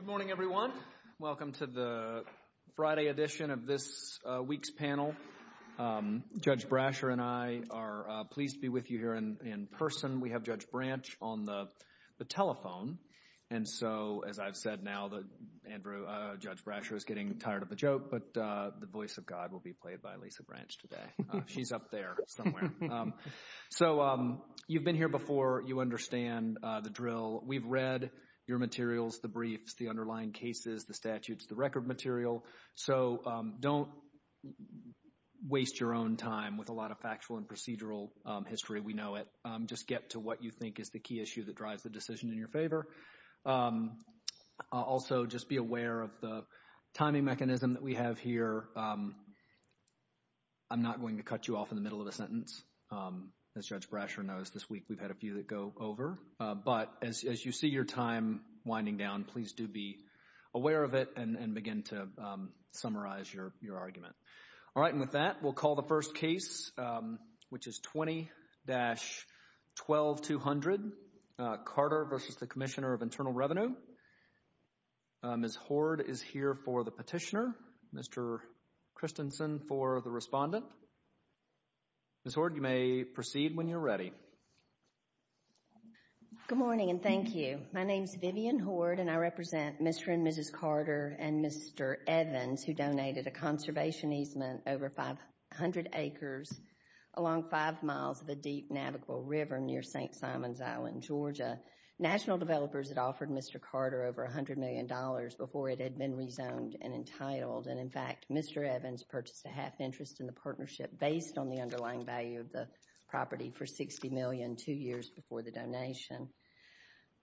Good morning, everyone. Welcome to the Friday edition of this week's panel. Judge Brasher and I are pleased to be with you here in person. We have Judge Branch on the telephone. And so, as I've said now, Andrew, Judge Brasher is getting tired of the joke, but the voice of God will be played by Lisa Branch today. She's up there somewhere. So, you've been here before. You understand the drill. We've read your materials, the briefs, the underlying cases, the statutes, the record material. So, don't waste your own time with a lot of factual and procedural history. We know it. Just get to what you think is the key issue that drives the decision in your favor. Also, just be aware of the timing mechanism that we have here. I'm not going to cut you off in the middle of a sentence. As Judge Brasher, we've had a few that go over. But as you see your time winding down, please do be aware of it and begin to summarize your argument. All right. And with that, we'll call the first case, which is 20-12200, Carter v. Commissioner of Internal Revenue. Ms. Horde is here for the petitioner. Mr. Christensen for the respondent. Ms. Horde, you may proceed when you're ready. Good morning and thank you. My name is Vivian Horde and I represent Mr. and Mrs. Carter and Mr. Evans who donated a conservation easement over 500 acres along five miles of a deep navigable river near St. Simons Island, Georgia. National Developers had offered Mr. Carter over $100 million before it had been rezoned and entitled. In fact, Mr. Evans purchased a half interest in the partnership based on the underlying value of the property for $60 million two years before the donation.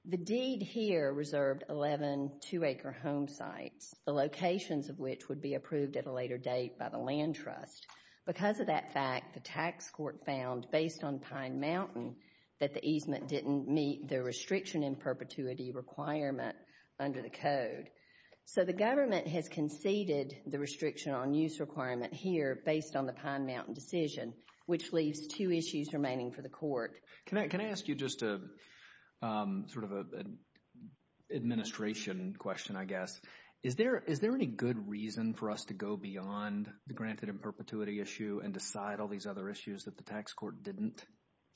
The deed here reserved 11 two-acre home sites, the locations of which would be approved at a later date by the land trust. Because of that fact, the tax court found, based on Pine Mountain, that the easement didn't meet the restriction in perpetuity requirement under the code. So the government has conceded the restriction on use requirement here based on the Pine Mountain decision, which leaves two issues remaining for the court. Can I ask you just sort of an administration question, I guess. Is there any good reason for us to go beyond the granted in perpetuity issue and decide all these other issues that the tax court didn't,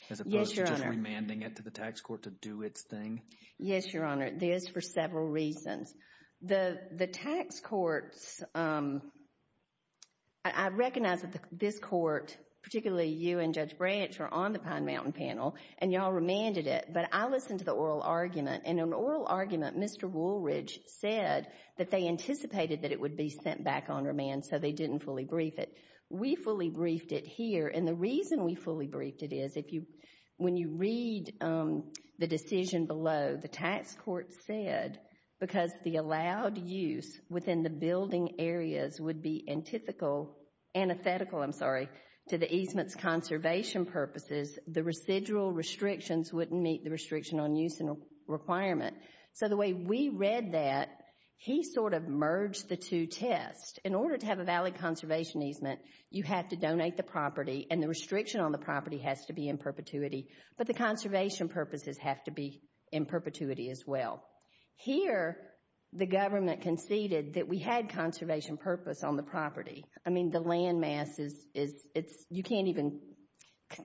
as opposed to just remanding it to the tax court to do its thing? Yes, Your Honor. There is for several reasons. The tax courts, I recognize that this court, particularly you and Judge Branch, are on the Pine Mountain panel, and you all remanded it. But I listened to the oral argument, and in the oral argument, Mr. Woolridge said that they anticipated that it would be sent back on remand, so they didn't fully brief it. We fully briefed it here, and the reason we fully briefed it is, when you read the decision below, the tax court said, because of the allowed use within the building areas would be antithetical to the easement's conservation purposes, the residual restrictions wouldn't meet the restriction on use requirement. So the way we read that, he sort of merged the two tests. In order to have a valid conservation easement, you have to donate the property, and the restriction on the property has to be in perpetuity. But the conservation purposes have to be in perpetuity as well. Here, the government conceded that we had conservation purpose on the property. I mean, the land mass is, you can't even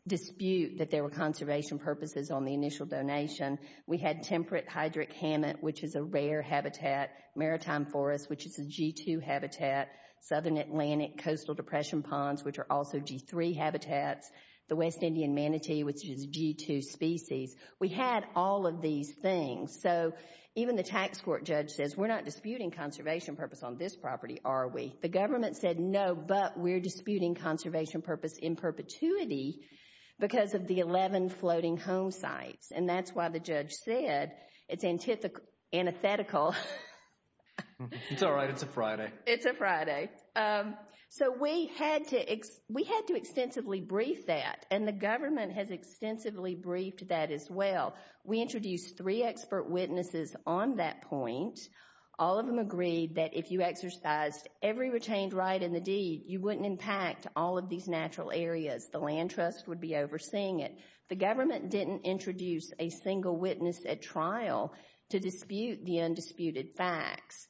dispute that there were conservation purposes on the initial donation. We had temperate hydric hammock, which is a rare habitat, maritime forest, which is a G2 habitat, southern Atlantic coastal depression ponds, which are also G3 habitats, the West Indian manatee, which is a G2 species. We had all of these things. So even the tax court judge says, we're not disputing conservation purpose on this property, are we? The government said, no, but we're disputing conservation purpose in perpetuity because of the 11 floating home sites. And that's why the judge said it's antithetical. It's a Friday. So we had to extensively brief that, and the government has extensively briefed that as well. We introduced three expert witnesses on that point. All of them agreed that if you exercised every retained right in the deed, you wouldn't impact all of these natural areas. The land trust would be overseeing it. The government didn't introduce a single witness at trial to dispute the undisputed facts.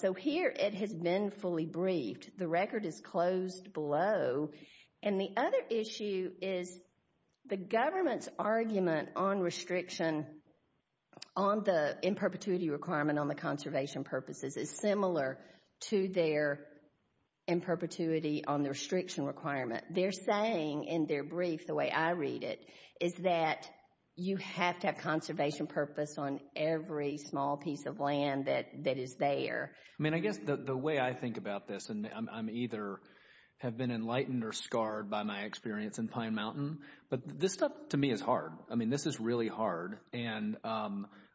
So here, it has been fully briefed. The record is closed below. And the other issue is the government's argument on restriction on the in perpetuity requirement on the conservation purposes is similar to their in perpetuity on the restriction requirement. They're saying in their brief, the way I read it, is that you have to have conservation purpose on every small piece of land that is there. I mean, I guess the way I think about this, and I either have been enlightened or scarred by my experience in Pine Mountain, but this stuff to me is hard. I mean, this is really hard. And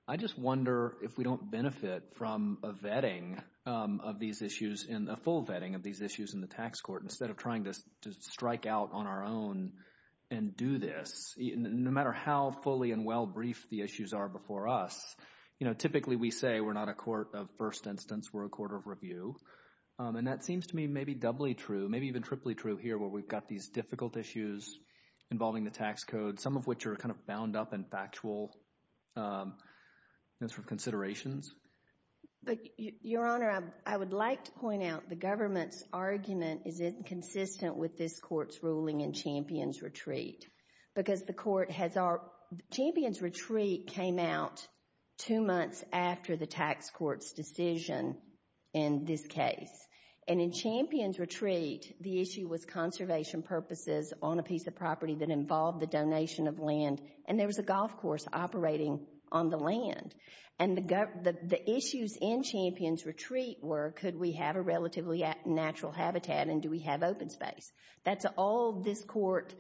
I just wonder if we don't benefit from a vetting of these issues, a full vetting of these issues in the tax court, instead of trying to strike out on our own and do this, no matter how fully and well briefed the issues are before us. You know, typically we say we're not a court of first instance, we're a court of review. And that seems to me maybe doubly true, maybe even triply true here where we've got these difficult issues involving the tax code, some of which are kind of bound up in factual considerations. But, Your Honor, I would like to point out the government's argument is inconsistent with this court's ruling in Champion's Retreat. Because the court has our, Champion's Retreat came out two months after the tax court's decision in this case. And in Champion's Retreat, the issue was conservation purposes on a piece of property that involved the donation of land, and there was a golf course operating on the land. And the issues in Champion's That's all this court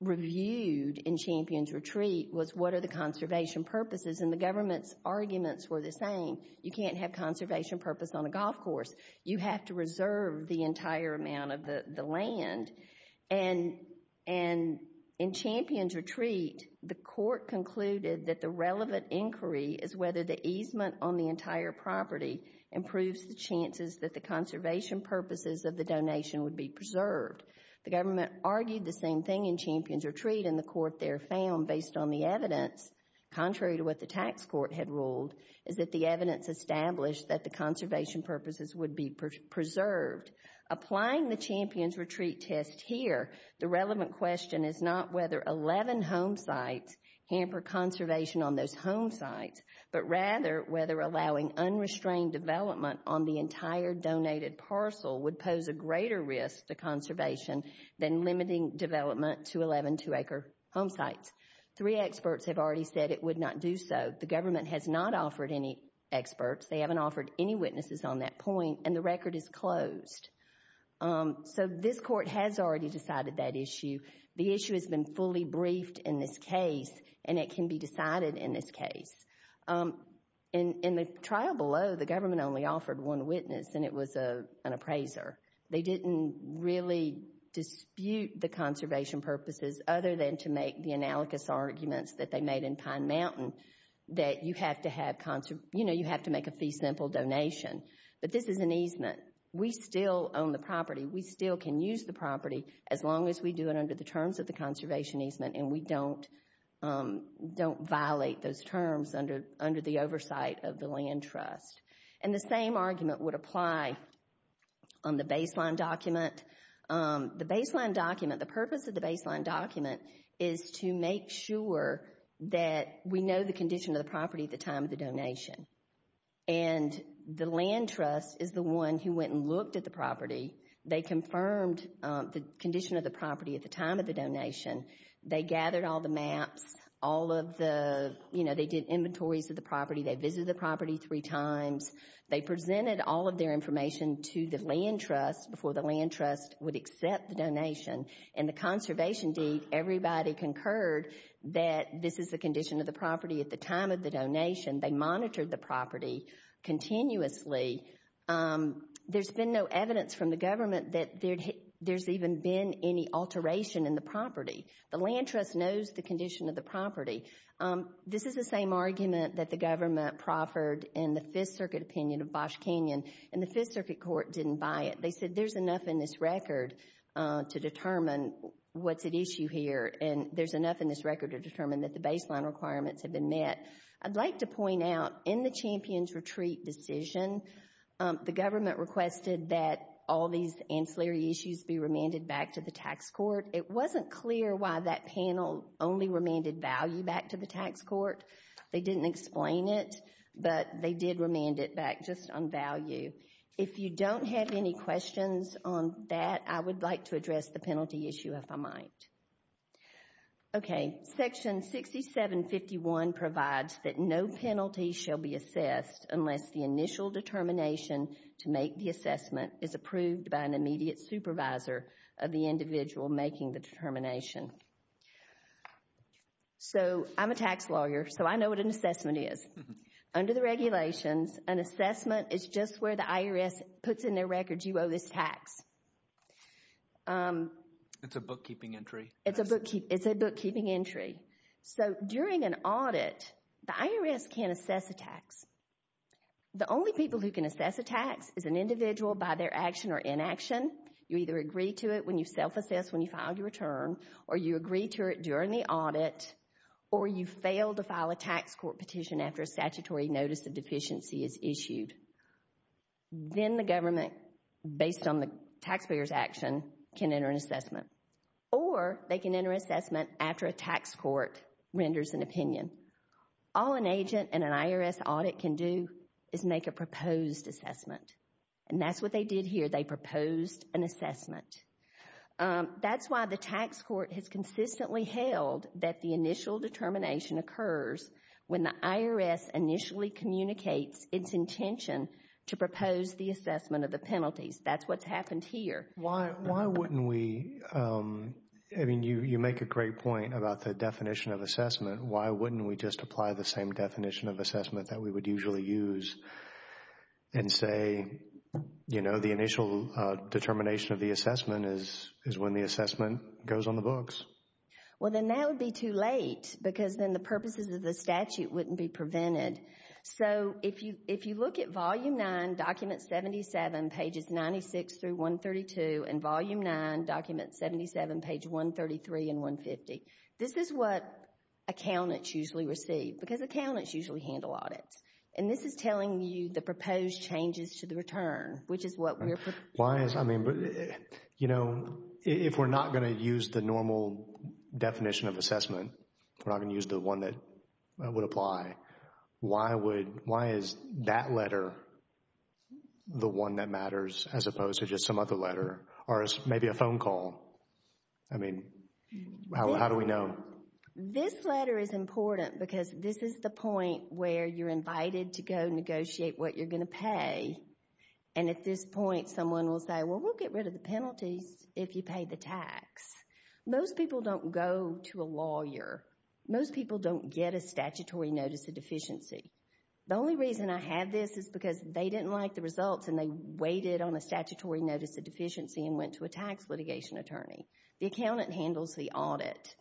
reviewed in Champion's Retreat was what are the conservation purposes. And the government's arguments were the same. You can't have conservation purpose on a golf course. You have to reserve the entire amount of the land. And in Champion's Retreat, the court concluded that the relevant inquiry is whether the easement on the entire property improves the chances that the conservation purposes of the donation would be preserved. The government argued the same thing in Champion's Retreat, and the court there found, based on the evidence, contrary to what the tax court had ruled, is that the evidence established that the conservation purposes would be preserved. Applying the Champion's Retreat test here, the relevant question is not whether 11 home sites hamper conservation on those home sites, but rather whether allowing unrestrained development on the entire donated parcel would pose a greater risk to conservation than limiting development to 11 two-acre home sites. Three experts have already said it would not do so. The government has not offered any experts. They haven't offered any witnesses on that point, and the record is closed. So this court has already decided that issue. The issue has been fully briefed in this case, and it can be decided in this case. In the trial below, the government only offered one witness, and it was an appraiser. They didn't really dispute the conservation purposes other than to make the analogous arguments that they made in Pine Mountain, that you have to make a fee simple donation. But this is an easement. We still own the property. We still can use the property as long as we do it under the terms of the conservation easement, and we don't violate those terms under the oversight of the land trust. And the same argument would apply on the baseline document. The baseline document, the purpose of the baseline document is to make sure that we know the condition of the property at the time of the donation. And the land trust is the one who went and looked at the property. They confirmed the condition of property at the time of the donation. They gathered all the maps, all of the, you know, they did inventories of the property. They visited the property three times. They presented all of their information to the land trust before the land trust would accept the donation. In the conservation deed, everybody concurred that this is the condition of the property at the time of the donation. They monitored the property continuously. There's been no evidence from the government that there's even been any alteration in the property. The land trust knows the condition of the property. This is the same argument that the government proffered in the Fifth Circuit opinion of Bosch Canyon, and the Fifth Circuit court didn't buy it. They said there's enough in this record to determine what's at issue here, and there's enough in this record to determine that the baseline requirements have been met. I'd like to point out in the all these ancillary issues be remanded back to the tax court. It wasn't clear why that panel only remanded value back to the tax court. They didn't explain it, but they did remand it back just on value. If you don't have any questions on that, I would like to address the penalty issue, if I might. Okay, section 6751 provides that no penalty shall be assessed unless the initial determination to make the assessment is approved by an immediate supervisor of the individual making the determination. So, I'm a tax lawyer, so I know what an assessment is. Under the regulations, an assessment is just where the IRS puts in their records you owe this tax. It's a bookkeeping entry. It's a bookkeeping entry. So, during an audit, the IRS can't assess a tax. The only people who can assess a tax is an individual by their action or inaction. You either agree to it when you self-assess when you file your return, or you agree to it during the audit, or you fail to file a tax court petition after a statutory notice of deficiency is issued. Then the government, based on the taxpayer's action, can enter an assessment, or they can enter an assessment after a tax court renders an opinion. All an agent in an IRS audit can do is make a proposed assessment, and that's what they did here. They proposed an assessment. That's why the tax court has consistently held that the initial determination occurs when the IRS initially communicates its intention to propose the assessment of the penalties. That's what's happened here. Why wouldn't we? I mean, you make a great point about the definition of assessment. Why wouldn't we just apply the same definition of assessment that we would usually use and say the initial determination of the assessment is when the assessment goes on the books? Well, then that would be too late because then the purposes of the statute wouldn't be prevented. So, if you look at volume 9, document 77, pages 96 through 132, and volume 9, document 77, page 133 and 150, this is what accountants usually receive because accountants usually handle audits, and this is telling you the proposed changes to the return, which is what we're... Why is, I mean, you know, if we're not going to use the normal definition of assessment, we're not going to use the one that would apply, why is that letter the one that matters as opposed to just some other letter or maybe a phone call? I mean, how do we know? This letter is important because this is the point where you're invited to go negotiate what you're going to pay, and at this point someone will say, well, we'll get rid of the penalties if you pay the tax. Most people don't go to a lawyer. Most people don't get a statutory notice of deficiency. The only reason I have this is because they didn't like the results and they waited on a statutory notice of deficiency and went to a tax litigation attorney. The accountant handles the audit.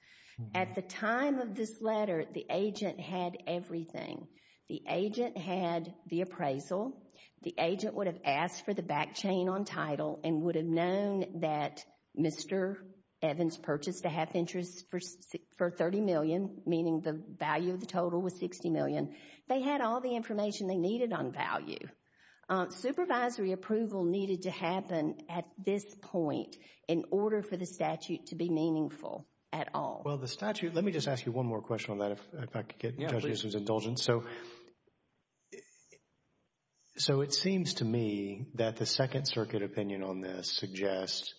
At the time of this letter, the agent had everything. The agent had the appraisal. The agent would have asked for the back chain on title and would have shown that Mr. Evans purchased a half-interest for $30 million, meaning the value of the total was $60 million. They had all the information they needed on value. Supervisory approval needed to happen at this point in order for the statute to be meaningful at all. Well, the statute, let me just ask you one more question on that, if I could get Judge Newsom's indulgence. So it seems to me that the Second Circuit opinion on this suggests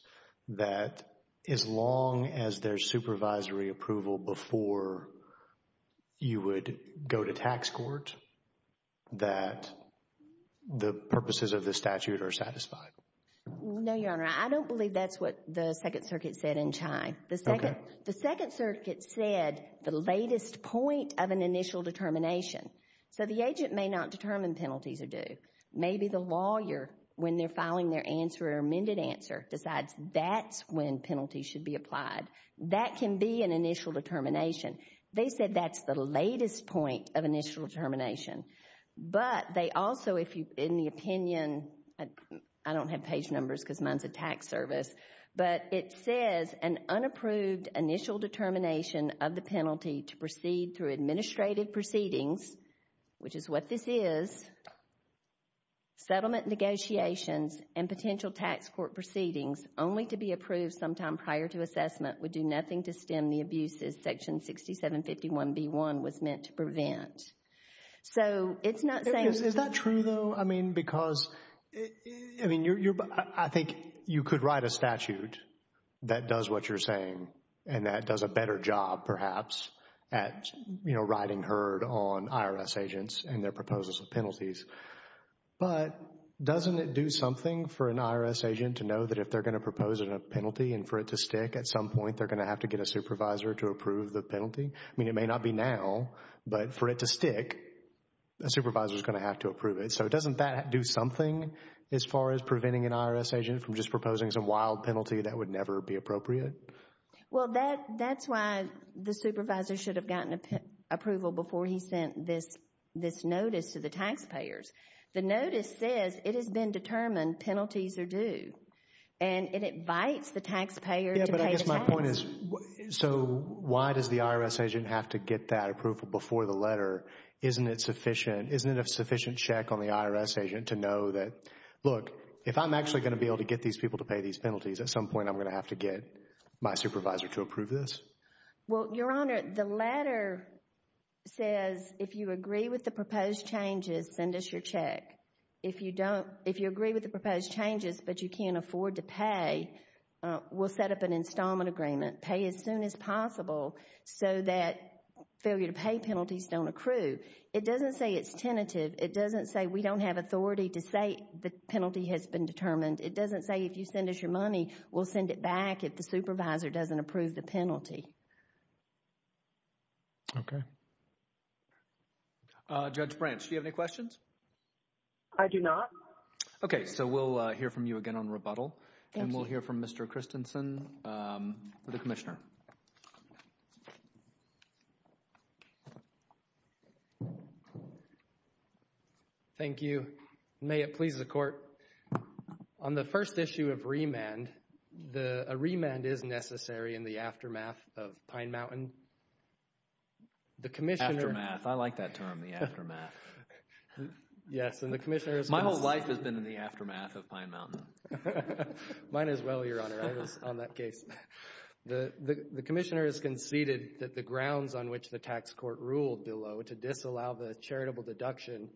that as long as there's supervisory approval before you would go to tax court, that the purposes of the statute are satisfied. No, Your Honor, I don't believe that's what the Second Circuit said in Chai. The Second Circuit said the latest point of an initial determination. So the agent may not determine penalties are due. Maybe the lawyer, when they're filing their answer or amended answer, decides that's when penalties should be applied. That can be an initial determination. They said that's the latest point of initial determination. But they also, if you, in the opinion, I don't have page numbers because mine's a tax service, but it says an unapproved initial determination of the penalty to proceed through administrative proceedings, which is what this is, settlement negotiations and potential tax court proceedings only to be approved sometime prior to assessment would do nothing to stem the abuses Section 6751b1 was meant to prevent. So it's not saying... Is that true though? I mean, because, I mean, you're, that does a better job perhaps at, you know, riding herd on IRS agents and their proposals of penalties. But doesn't it do something for an IRS agent to know that if they're going to propose a penalty and for it to stick at some point, they're going to have to get a supervisor to approve the penalty? I mean, it may not be now, but for it to stick, a supervisor is going to have to approve it. So doesn't that do something as far as preventing an IRS agent from just Well, that's why the supervisor should have gotten approval before he sent this notice to the taxpayers. The notice says it has been determined penalties are due and it invites the taxpayer to pay the tax. Yeah, but I guess my point is, so why does the IRS agent have to get that approval before the letter? Isn't it sufficient? Isn't it a sufficient check on the IRS agent to know that, look, if I'm actually going to be able to get these people to pay these penalties, at some point I'm going to have to get my supervisor to approve this? Well, Your Honor, the letter says if you agree with the proposed changes, send us your check. If you don't, if you agree with the proposed changes, but you can't afford to pay, we'll set up an installment agreement. Pay as soon as possible so that failure to pay penalties don't accrue. It doesn't say it's tentative. It doesn't say we don't have authority to say the penalty has been determined. It doesn't say if you send us your money, we'll send it back if the supervisor doesn't approve the penalty. Okay. Judge Branch, do you have any questions? I do not. Okay, so we'll hear from you again on rebuttal and we'll hear from Mr. Christensen, the Commissioner. Thank you. May it please the Court. On the first issue of remand, a remand is necessary in the aftermath of Pine Mountain. The Commissioner... Aftermath. I like that term, the aftermath. Yes, and the Commissioner... My whole life has been in the aftermath of Pine Mountain. Mine as well, Your Honor. I was on that case. The Commissioner has conceded that the grounds on which the tax court ruled below to disallow the charitable deduction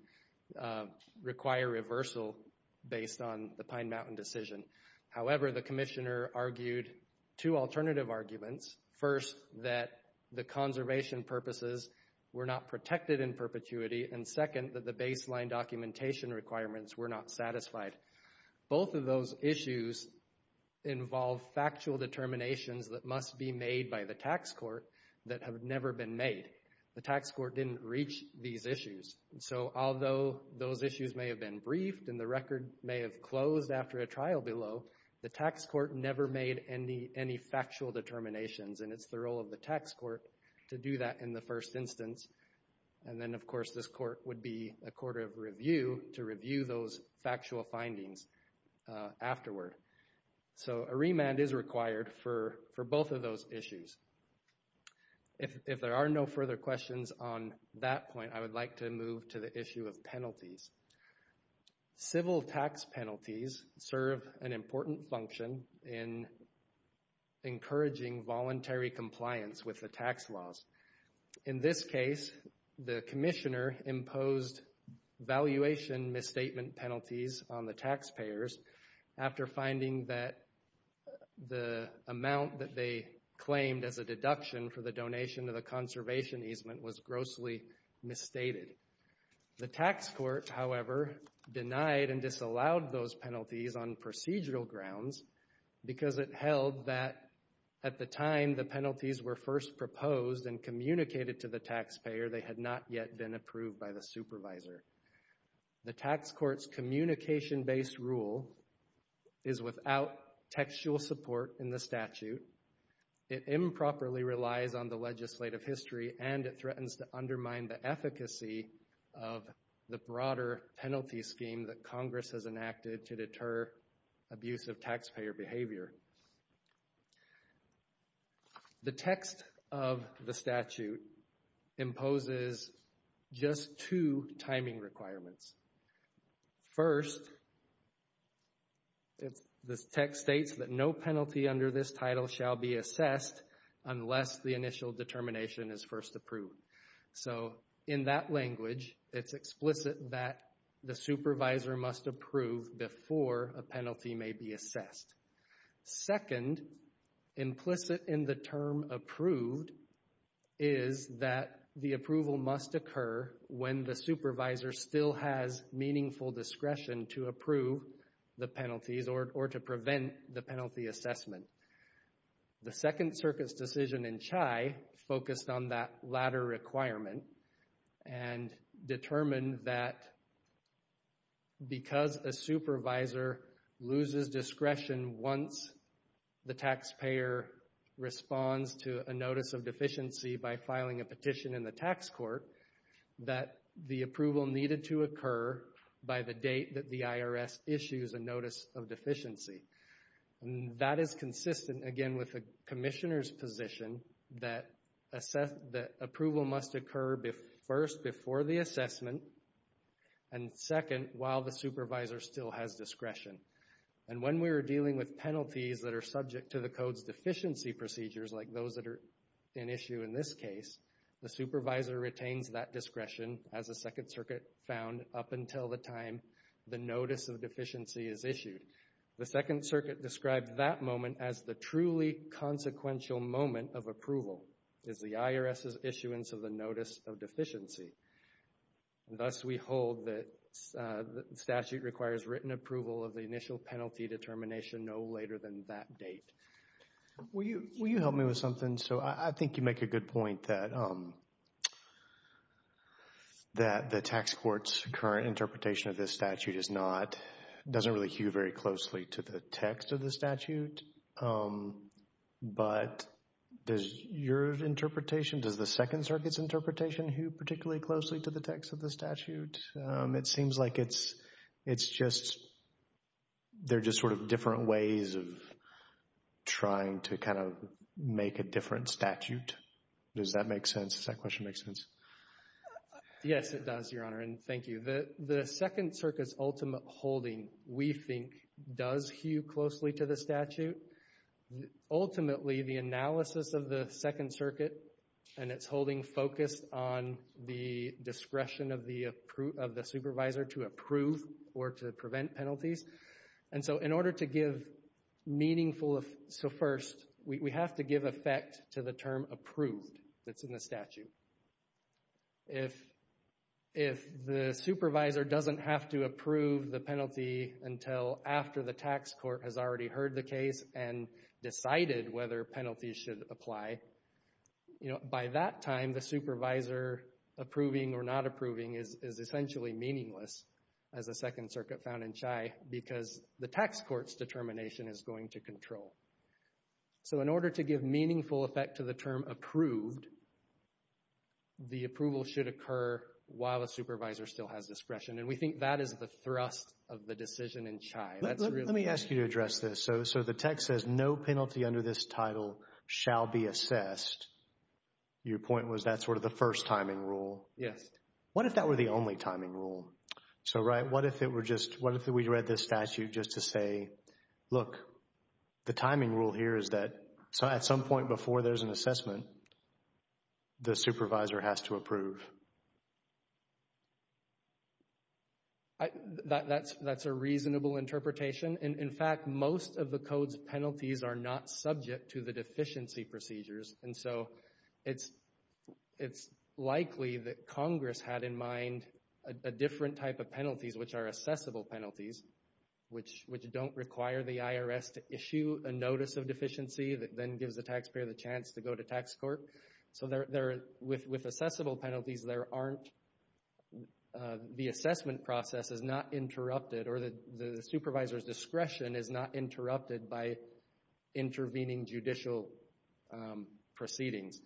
require reversal based on the Pine Mountain decision. However, the Commissioner argued two alternative arguments. First, that the conservation purposes were not protected in perpetuity, and second, that the baseline documentation requirements were not satisfied. Both of those issues involve factual determinations that must be made by the tax court that have never been made. The tax court didn't reach these issues, so although those issues may have been briefed and the record may have closed after a trial below, the tax court never made any factual determinations, and it's the role of the tax court to do that in the first instance. And then, of course, this court would be a court of review to review those factual findings afterward. So a remand is required for both of those issues. If there are no further questions on that point, I would like to move to the issue of penalties. Civil tax penalties serve an important function in encouraging voluntary compliance with the tax laws. In this case, the Commissioner imposed valuation misstatement penalties on the taxpayers after finding that the amount that they claimed as a deduction for the donation of the conservation easement was grossly misstated. The tax court, however, denied and disallowed those penalties on procedural grounds because it held that at the time the penalties were first proposed and communicated to the taxpayer, they had not yet been approved by the supervisor. The tax court's communication-based rule is without textual support in the statute. It improperly relies on the legislative history, and it threatens to undermine the efficacy of the broader penalty scheme that Congress has enacted to deter abusive taxpayer behavior. The text of the statute imposes just two timing requirements. First, the text states that no penalty under this title shall be assessed unless the initial determination is first approved. So, in that language, it's explicit that the supervisor must approve before a penalty may be assessed. Second, implicit in the term approved is that the approval must occur when the supervisor still has meaningful discretion to approve the penalties or to prevent the penalty assessment. The Second Circuit's decision in CHI focused on that latter requirement and determined that because a supervisor loses discretion once the taxpayer responds to a notice of deficiency by filing a petition in the tax court, that the approval needed to occur by the date that the commissioner's position that approval must occur first before the assessment, and second, while the supervisor still has discretion. And when we're dealing with penalties that are subject to the Code's deficiency procedures, like those that are in issue in this case, the supervisor retains that discretion, as the Second Circuit found, up until the time the notice of deficiency is issued. The Second Circuit described that moment as the truly consequential moment of approval, as the IRS's issuance of the notice of deficiency. Thus, we hold that the statute requires written approval of the initial penalty determination no later than that date. Will you help me with something? So, I think you make a good point that the tax court's current interpretation of this statute is not, doesn't really hew very closely to the text of the statute, but does your interpretation, does the Second Circuit's interpretation hew particularly closely to the text of the statute? It seems like it's, it's just, they're just sort of different ways of trying to kind of make a different statute. Does that make sense? Does that question make sense? Yes, it does, Your Honor, and thank you. The Second Circuit's ultimate holding, we think, does hew closely to the statute. Ultimately, the analysis of the Second Circuit and its holding focused on the discretion of the supervisor to approve or to prevent penalties. And so, in order to give meaningful, so first, we have to give effect to the term approved that's in the statute. If, if the supervisor doesn't have to approve the penalty until after the tax court has already heard the case and decided whether penalties should apply, you know, by that time, the supervisor approving or not approving is essentially meaningless, as the Second Circuit found in Chai, because the tax court's determination is going to control. So, in order to give meaningful effect to the term approved, the approval should occur while a supervisor still has discretion, and we think that is the thrust of the decision in Chai. Let me ask you to address this. So, so the text says, no penalty under this title shall be assessed. Your point was that's sort of the first timing rule. Yes. What if that were the only timing rule? So, right, what if it were just, what if we read this statute just to say, look, the timing rule here is that at some point before there's an assessment, the supervisor has to approve? That's, that's a reasonable interpretation. In fact, most of the Code's penalties are not subject to the deficiency procedures, and so it's, it's likely that Congress had in mind a different type of penalties, which are assessable penalties, which, which don't require the IRS to issue a notice of deficiency that then gives the taxpayer the chance to go to tax court. So, there, there, with, with assessable penalties, there aren't, the assessment process is not interrupted, or the supervisor's discretion is not interrupted by intervening judicial proceedings.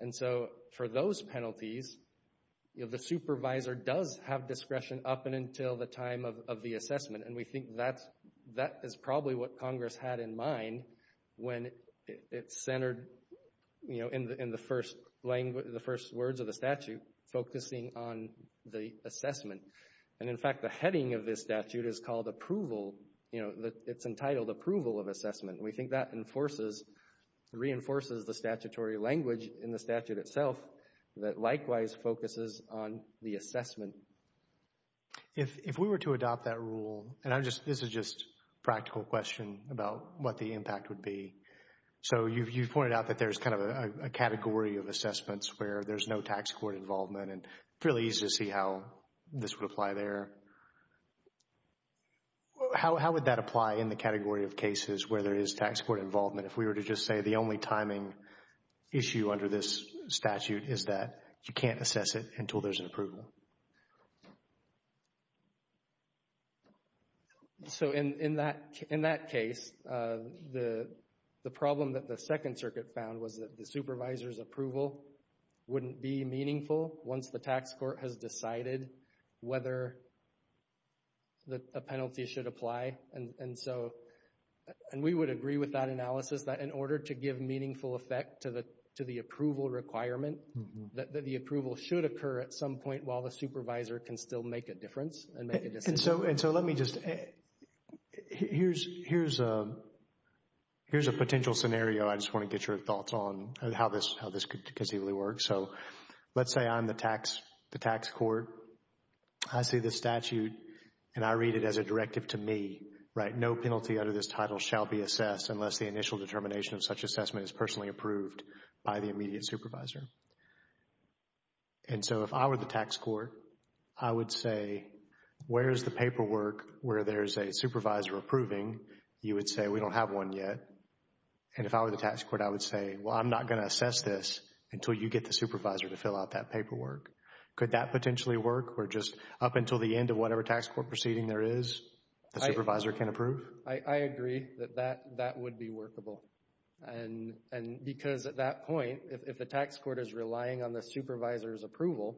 And so, for those penalties, you know, the supervisor does have discretion up and until the time of, of the assessment, and we think that's, that is probably what Congress had in mind when it centered, you know, in the, in the first language, the first words of the statute, focusing on the assessment. And in fact, the heading of this statute is called approval, you know, it's entitled approval of assessment, and we think that enforces, reinforces the statutory language in the statute itself that likewise focuses on the assessment. If, if we were to adopt that rule, and I'm just, this is just a practical question about what the impact would be. So, you've, you've pointed out that there's kind of a category of assessments where there's no tax court involvement, and it's really easy to see how this would apply there. Well, how, how would that apply in the category of cases where there is tax court involvement? If we were to just say the only timing issue under this statute is that you can't assess it until there's an approval? So, in, in that, in that case, the, the problem that the Second Circuit found was that the supervisor's approval wouldn't be meaningful once the tax court has decided whether the penalty should apply. And, and so, and we would agree with that analysis that in order to give meaningful effect to the, to the approval requirement, that the approval should occur at some point while the supervisor can still make a difference and make a decision. And so, and so let me just, here's, here's a, here's a potential scenario. I just want to get your thoughts on how this, how this could conceivably work. So, let's say I'm the tax, the tax court. I see the statute, and I read it as a directive to me, right? No penalty under this title shall be assessed unless the initial determination of such assessment is personally approved by the immediate supervisor. And so, if I were the tax court, I would say, where's the paperwork where there's a supervisor approving? You would say, we don't have one yet. And if I were the tax court, I would say, well, I'm not going to assess this until you get the supervisor to fill out that paperwork. Could that potentially work? Or just up until the end of whatever tax court proceeding there is, the supervisor can approve? I, I agree that that, that would be workable. And, and because at that point, if the tax court is relying on the supervisor's approval,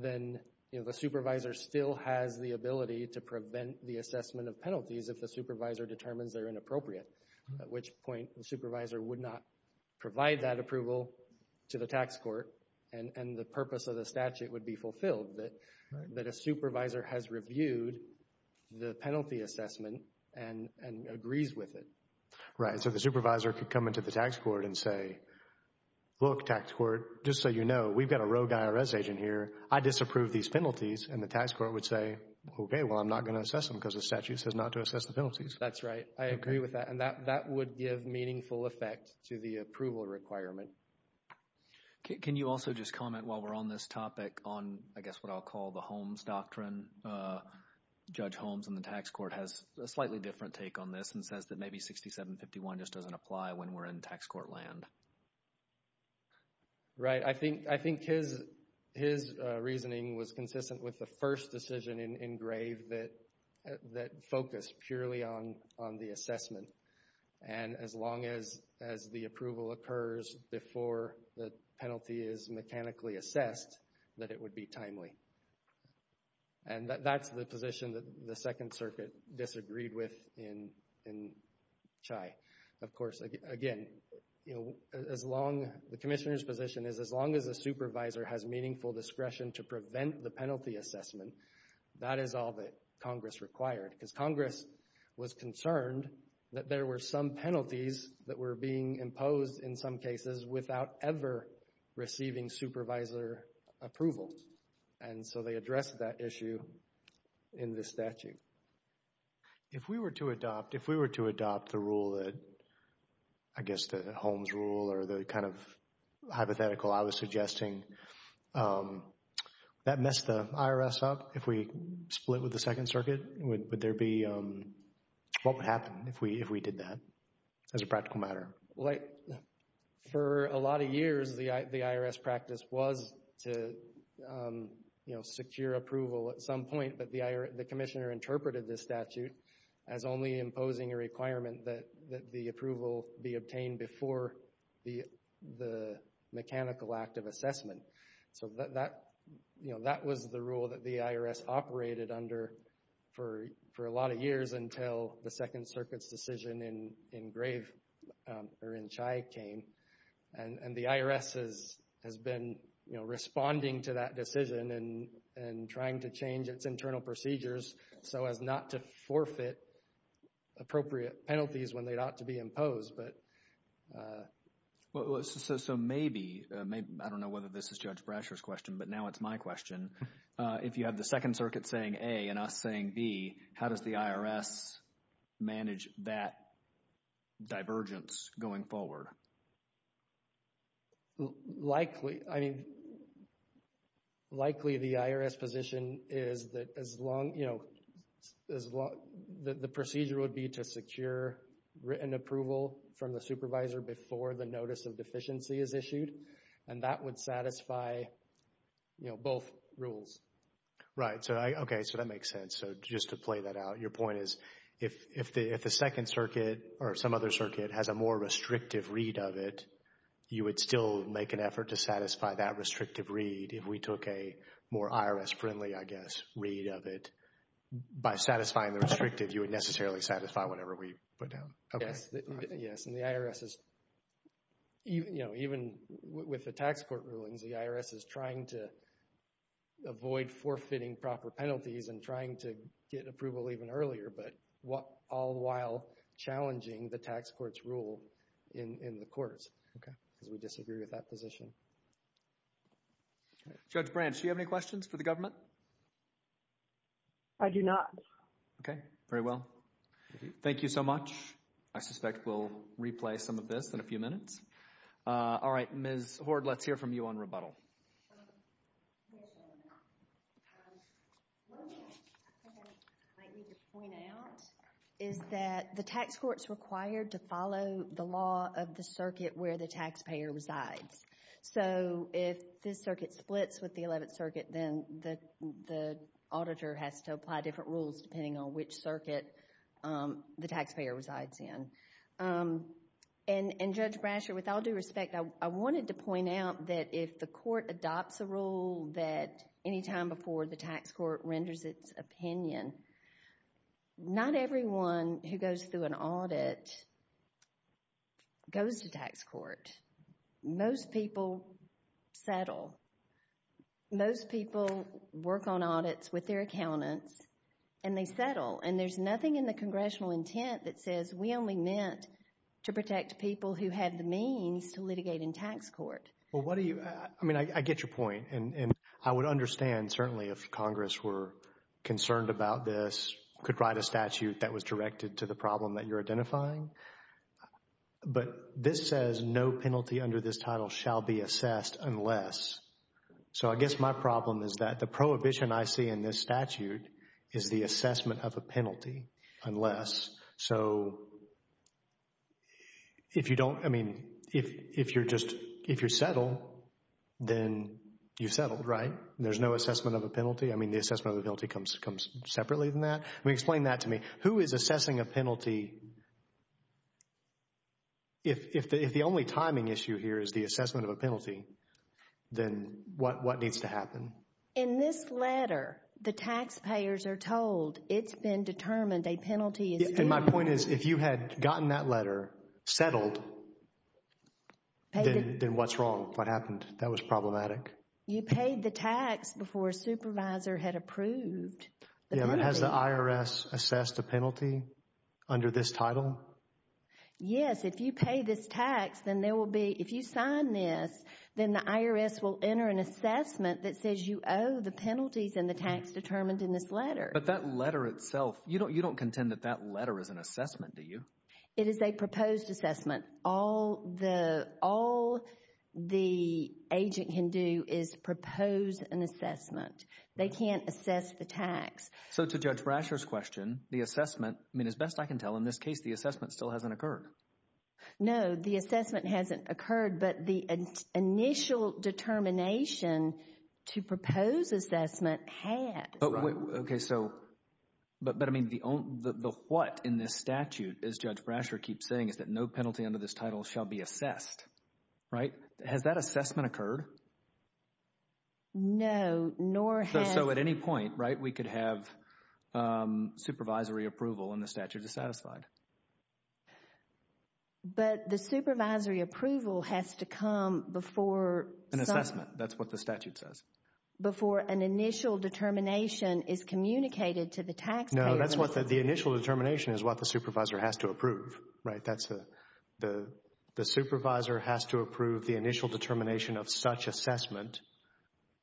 then, you know, the supervisor still has the ability to prevent the assessment of penalties if the supervisor determines they're inappropriate, at which point the supervisor would not provide that approval to the tax court. And, and the purpose of the statute would be fulfilled, that, that a supervisor has reviewed the penalty assessment and, and agrees with it. Right. So, the supervisor could come into the tax court and say, look, tax court, just so you know, we've got a rogue IRS agent here. I disapprove these penalties. And the tax court would say, okay, well, I'm not going to assess them because the statute says not to assess the penalties. That's right. I agree with that. And that, that would give meaningful effect to the approval requirement. Can, can you also just comment while we're on this topic on, I guess, what I'll call the Holmes Doctrine? Judge Holmes in the tax court has a slightly different take on this and says that maybe 6751 just doesn't apply when we're in tax court land. Right. I think, I think his, his reasoning was consistent with the first decision in, in Grave that, that focused purely on, on the assessment. And as long as, as the approval occurs before the penalty is mechanically assessed, that it would be timely. And that, that's the position that the Second Circuit disagreed with in, in CHI. Of course, again, you know, as long, the commissioner's position is, as long as a supervisor has meaningful discretion to prevent the penalty assessment, that is all that Congress required. Because Congress was concerned that there were some penalties that were being imposed in some cases without ever receiving supervisor approval. And so they addressed that issue in the statute. If we were to adopt, if we were to adopt the rule that, I guess, the Holmes rule or the kind of hypothetical I was suggesting, that messed the IRS up? If we split with the Second Circuit, would, would there be, what would happen if we, if we did that as a practical matter? Like, for a lot of years, the, the IRS practice was to, you know, secure approval at some point. But the, the commissioner interpreted this statute as only imposing a requirement that, that the approval be obtained before the, the mechanical act of assessment. So that, you know, that was the rule that the IRS operated under for, for a lot of years until the Second Circuit's decision in, in Grave, or in CHI came. And, and the IRS has, has been, you know, responding to that decision and, and trying to change its internal procedures so as not to forfeit appropriate penalties when they ought to be imposed. But. Well, so, so maybe, maybe, I don't know whether this is Judge Brasher's question, but now it's my question. If you have the Second Circuit saying A and us saying B, how does the IRS manage that divergence going forward? Likely. I mean, likely the IRS position is that as long, you know, as long, the procedure would be to secure written approval from the supervisor before the notice of deficiency is issued. And that would satisfy, you know, both rules. Right. So I, okay, so that makes sense. So just to play that out, your point is, if, if the, if the Second Circuit or some other circuit has a more restrictive read of it, you would still make an effort to satisfy that restrictive read if we took a more IRS friendly, I guess, read of it. By satisfying the restrictive, you would necessarily satisfy whatever we put down. Yes. Yes. And the IRS is, you know, even with the tax court rulings, the IRS is trying to avoid forfeiting proper penalties and trying to get approval even earlier. But what, all the while challenging the tax court's rule in, in the courts. Okay. Because we disagree with that position. Judge Branch, do you have any questions for the government? I do not. Okay. Very well. Thank you so much. I suspect we'll replay some of this in a few minutes. All right. Ms. Hoard, let's hear from you on rebuttal. Yes, gentlemen. One thing I might need to So, if this circuit splits with the Eleventh Circuit, then the, the auditor has to apply different rules depending on which circuit the taxpayer resides in. And, and Judge Brasher, with all due respect, I, I wanted to point out that if the court adopts a rule that anytime before the tax court renders its opinion, not everyone who goes through an audit goes to tax court. Most people settle. Most people work on audits with their accountants and they settle. And there's nothing in the congressional intent that says we only meant to protect people who have the means to litigate in tax court. Well, what do you, I mean, I, I get your point. And, and I would understand certainly if Congress were concerned about this, could write a statute that was directed to the problem that you're identifying. But this says no penalty under this title shall be assessed unless. So, I guess my problem is that the prohibition I see in this statute is the assessment of a penalty unless. So, if you don't, I mean, if, if you're just, if you're settled, then you've settled, right? There's no assessment of a penalty. I mean, the assessment of the penalty comes, comes separately than that. I mean, explain that to me. Who is assessing a penalty? If, if, if the only timing issue here is the assessment of a penalty, then what, what needs to happen? In this letter, the taxpayers are told it's been determined a penalty is. And my point is, if you had gotten that letter, settled, then what's wrong? What happened? That was problematic. You paid the tax before a supervisor had approved. Yeah, but has the IRS assessed a penalty under this title? Yes, if you pay this tax, then there will be, if you sign this, then the IRS will enter an assessment that says you owe the penalties and the tax determined in this letter. But that letter itself, you don't, you don't contend that that letter is an assessment, do you? It is a proposed assessment. All the, all the agent can do is propose an assessment. They can't assess the tax. So to Judge Brasher's question, the assessment, I mean, as best I can tell in this case, the assessment still hasn't occurred. No, the assessment hasn't occurred, but the initial determination to propose assessment had. Okay, so, but, but I mean, the, the what in this title shall be assessed, right? Has that assessment occurred? No, nor has. So at any point, right, we could have supervisory approval and the statute is satisfied. But the supervisory approval has to come before. An assessment, that's what the statute says. Before an initial determination is communicated to the taxpayer. No, that's what the initial determination is, what the supervisor has to approve, right? That's the, the, the supervisor has to approve the initial determination of such assessment,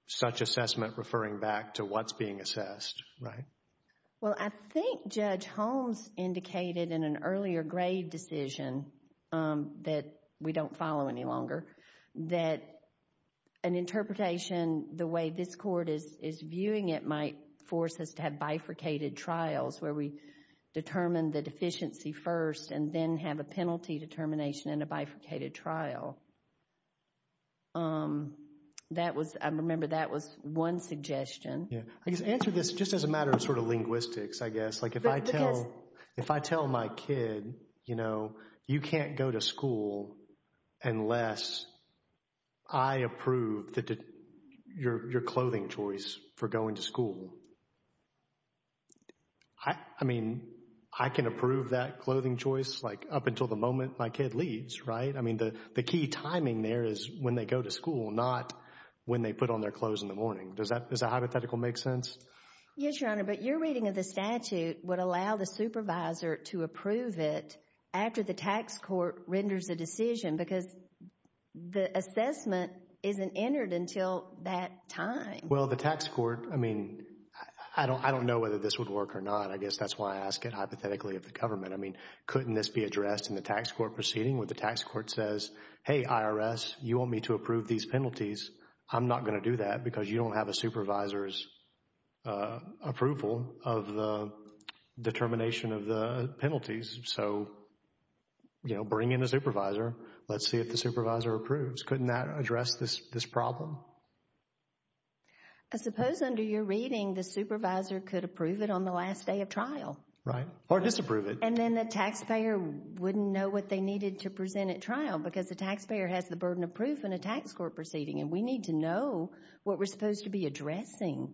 such assessment referring back to what's being assessed, right? Well, I think Judge Holmes indicated in an earlier grade decision that we don't follow any longer, that an interpretation, the way this court is, viewing it might force us to have bifurcated trials where we determine the deficiency first and then have a penalty determination in a bifurcated trial. That was, I remember that was one suggestion. Yeah, I guess answer this just as a matter of sort of linguistics, I guess, like if I tell, if I tell my kid, you know, you can't go to school unless I approve the, your, your clothing choice for going to school. I, I mean, I can approve that clothing choice, like up until the moment my kid leaves, right? I mean, the, the key timing there is when they go to school, not when they put on their clothes in the morning. Does that, does that hypothetical make sense? Yes, Your Honor, but your reading of the statute would allow the supervisor to approve it after the tax court renders a decision because the assessment isn't entered until that time. Well, the tax court, I mean, I don't, I don't know whether this would work or not. I guess that's why I ask it hypothetically of the government. I mean, couldn't this be addressed in the tax court proceeding where the tax court says, hey, IRS, you want me to approve these penalties? I'm not going to do that because you don't have a supervisor's approval of the determination of the penalties. So, you know, bring in a supervisor. Let's see if the supervisor approves. Couldn't that address this, this problem? I suppose under your reading, the supervisor could approve it on the last day of trial. Right, or disapprove it. And then the taxpayer wouldn't know what they needed to present at trial because the taxpayer has the burden of proof in a tax court proceeding, and we need to know what we're supposed to be addressing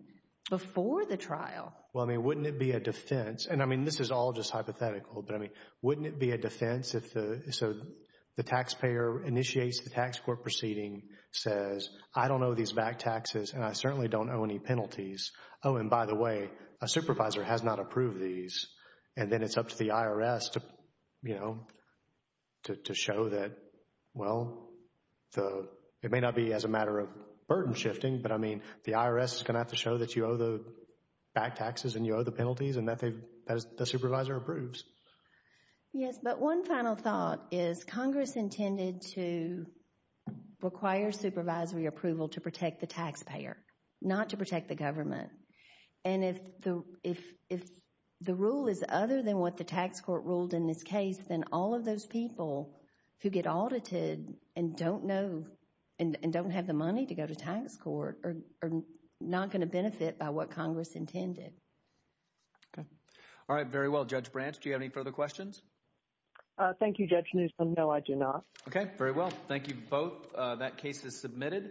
before the trial. Well, I mean, wouldn't it be a defense, and I mean, this is all just hypothetical, but I mean, wouldn't it be a defense if the, so the taxpayer initiates the tax court proceeding, says, I don't owe these back taxes, and I certainly don't owe any penalties. Oh, and by the way, a supervisor has not approved these, and then it's up to the IRS to, you know, to show that, well, the, it may not be as a matter of shifting, but I mean, the IRS is going to have to show that you owe the back taxes, and you owe the penalties, and that they've, the supervisor approves. Yes, but one final thought is Congress intended to require supervisory approval to protect the taxpayer, not to protect the government. And if the, if the rule is other than what the tax court ruled in this case, then all of those people who get audited and don't know, and don't have the authority to do so, they're not going to benefit by what Congress intended. Okay. All right. Very well. Judge Branch, do you have any further questions? Thank you, Judge Newsom. No, I do not. Okay. Very well. Thank you both. That case is submitted.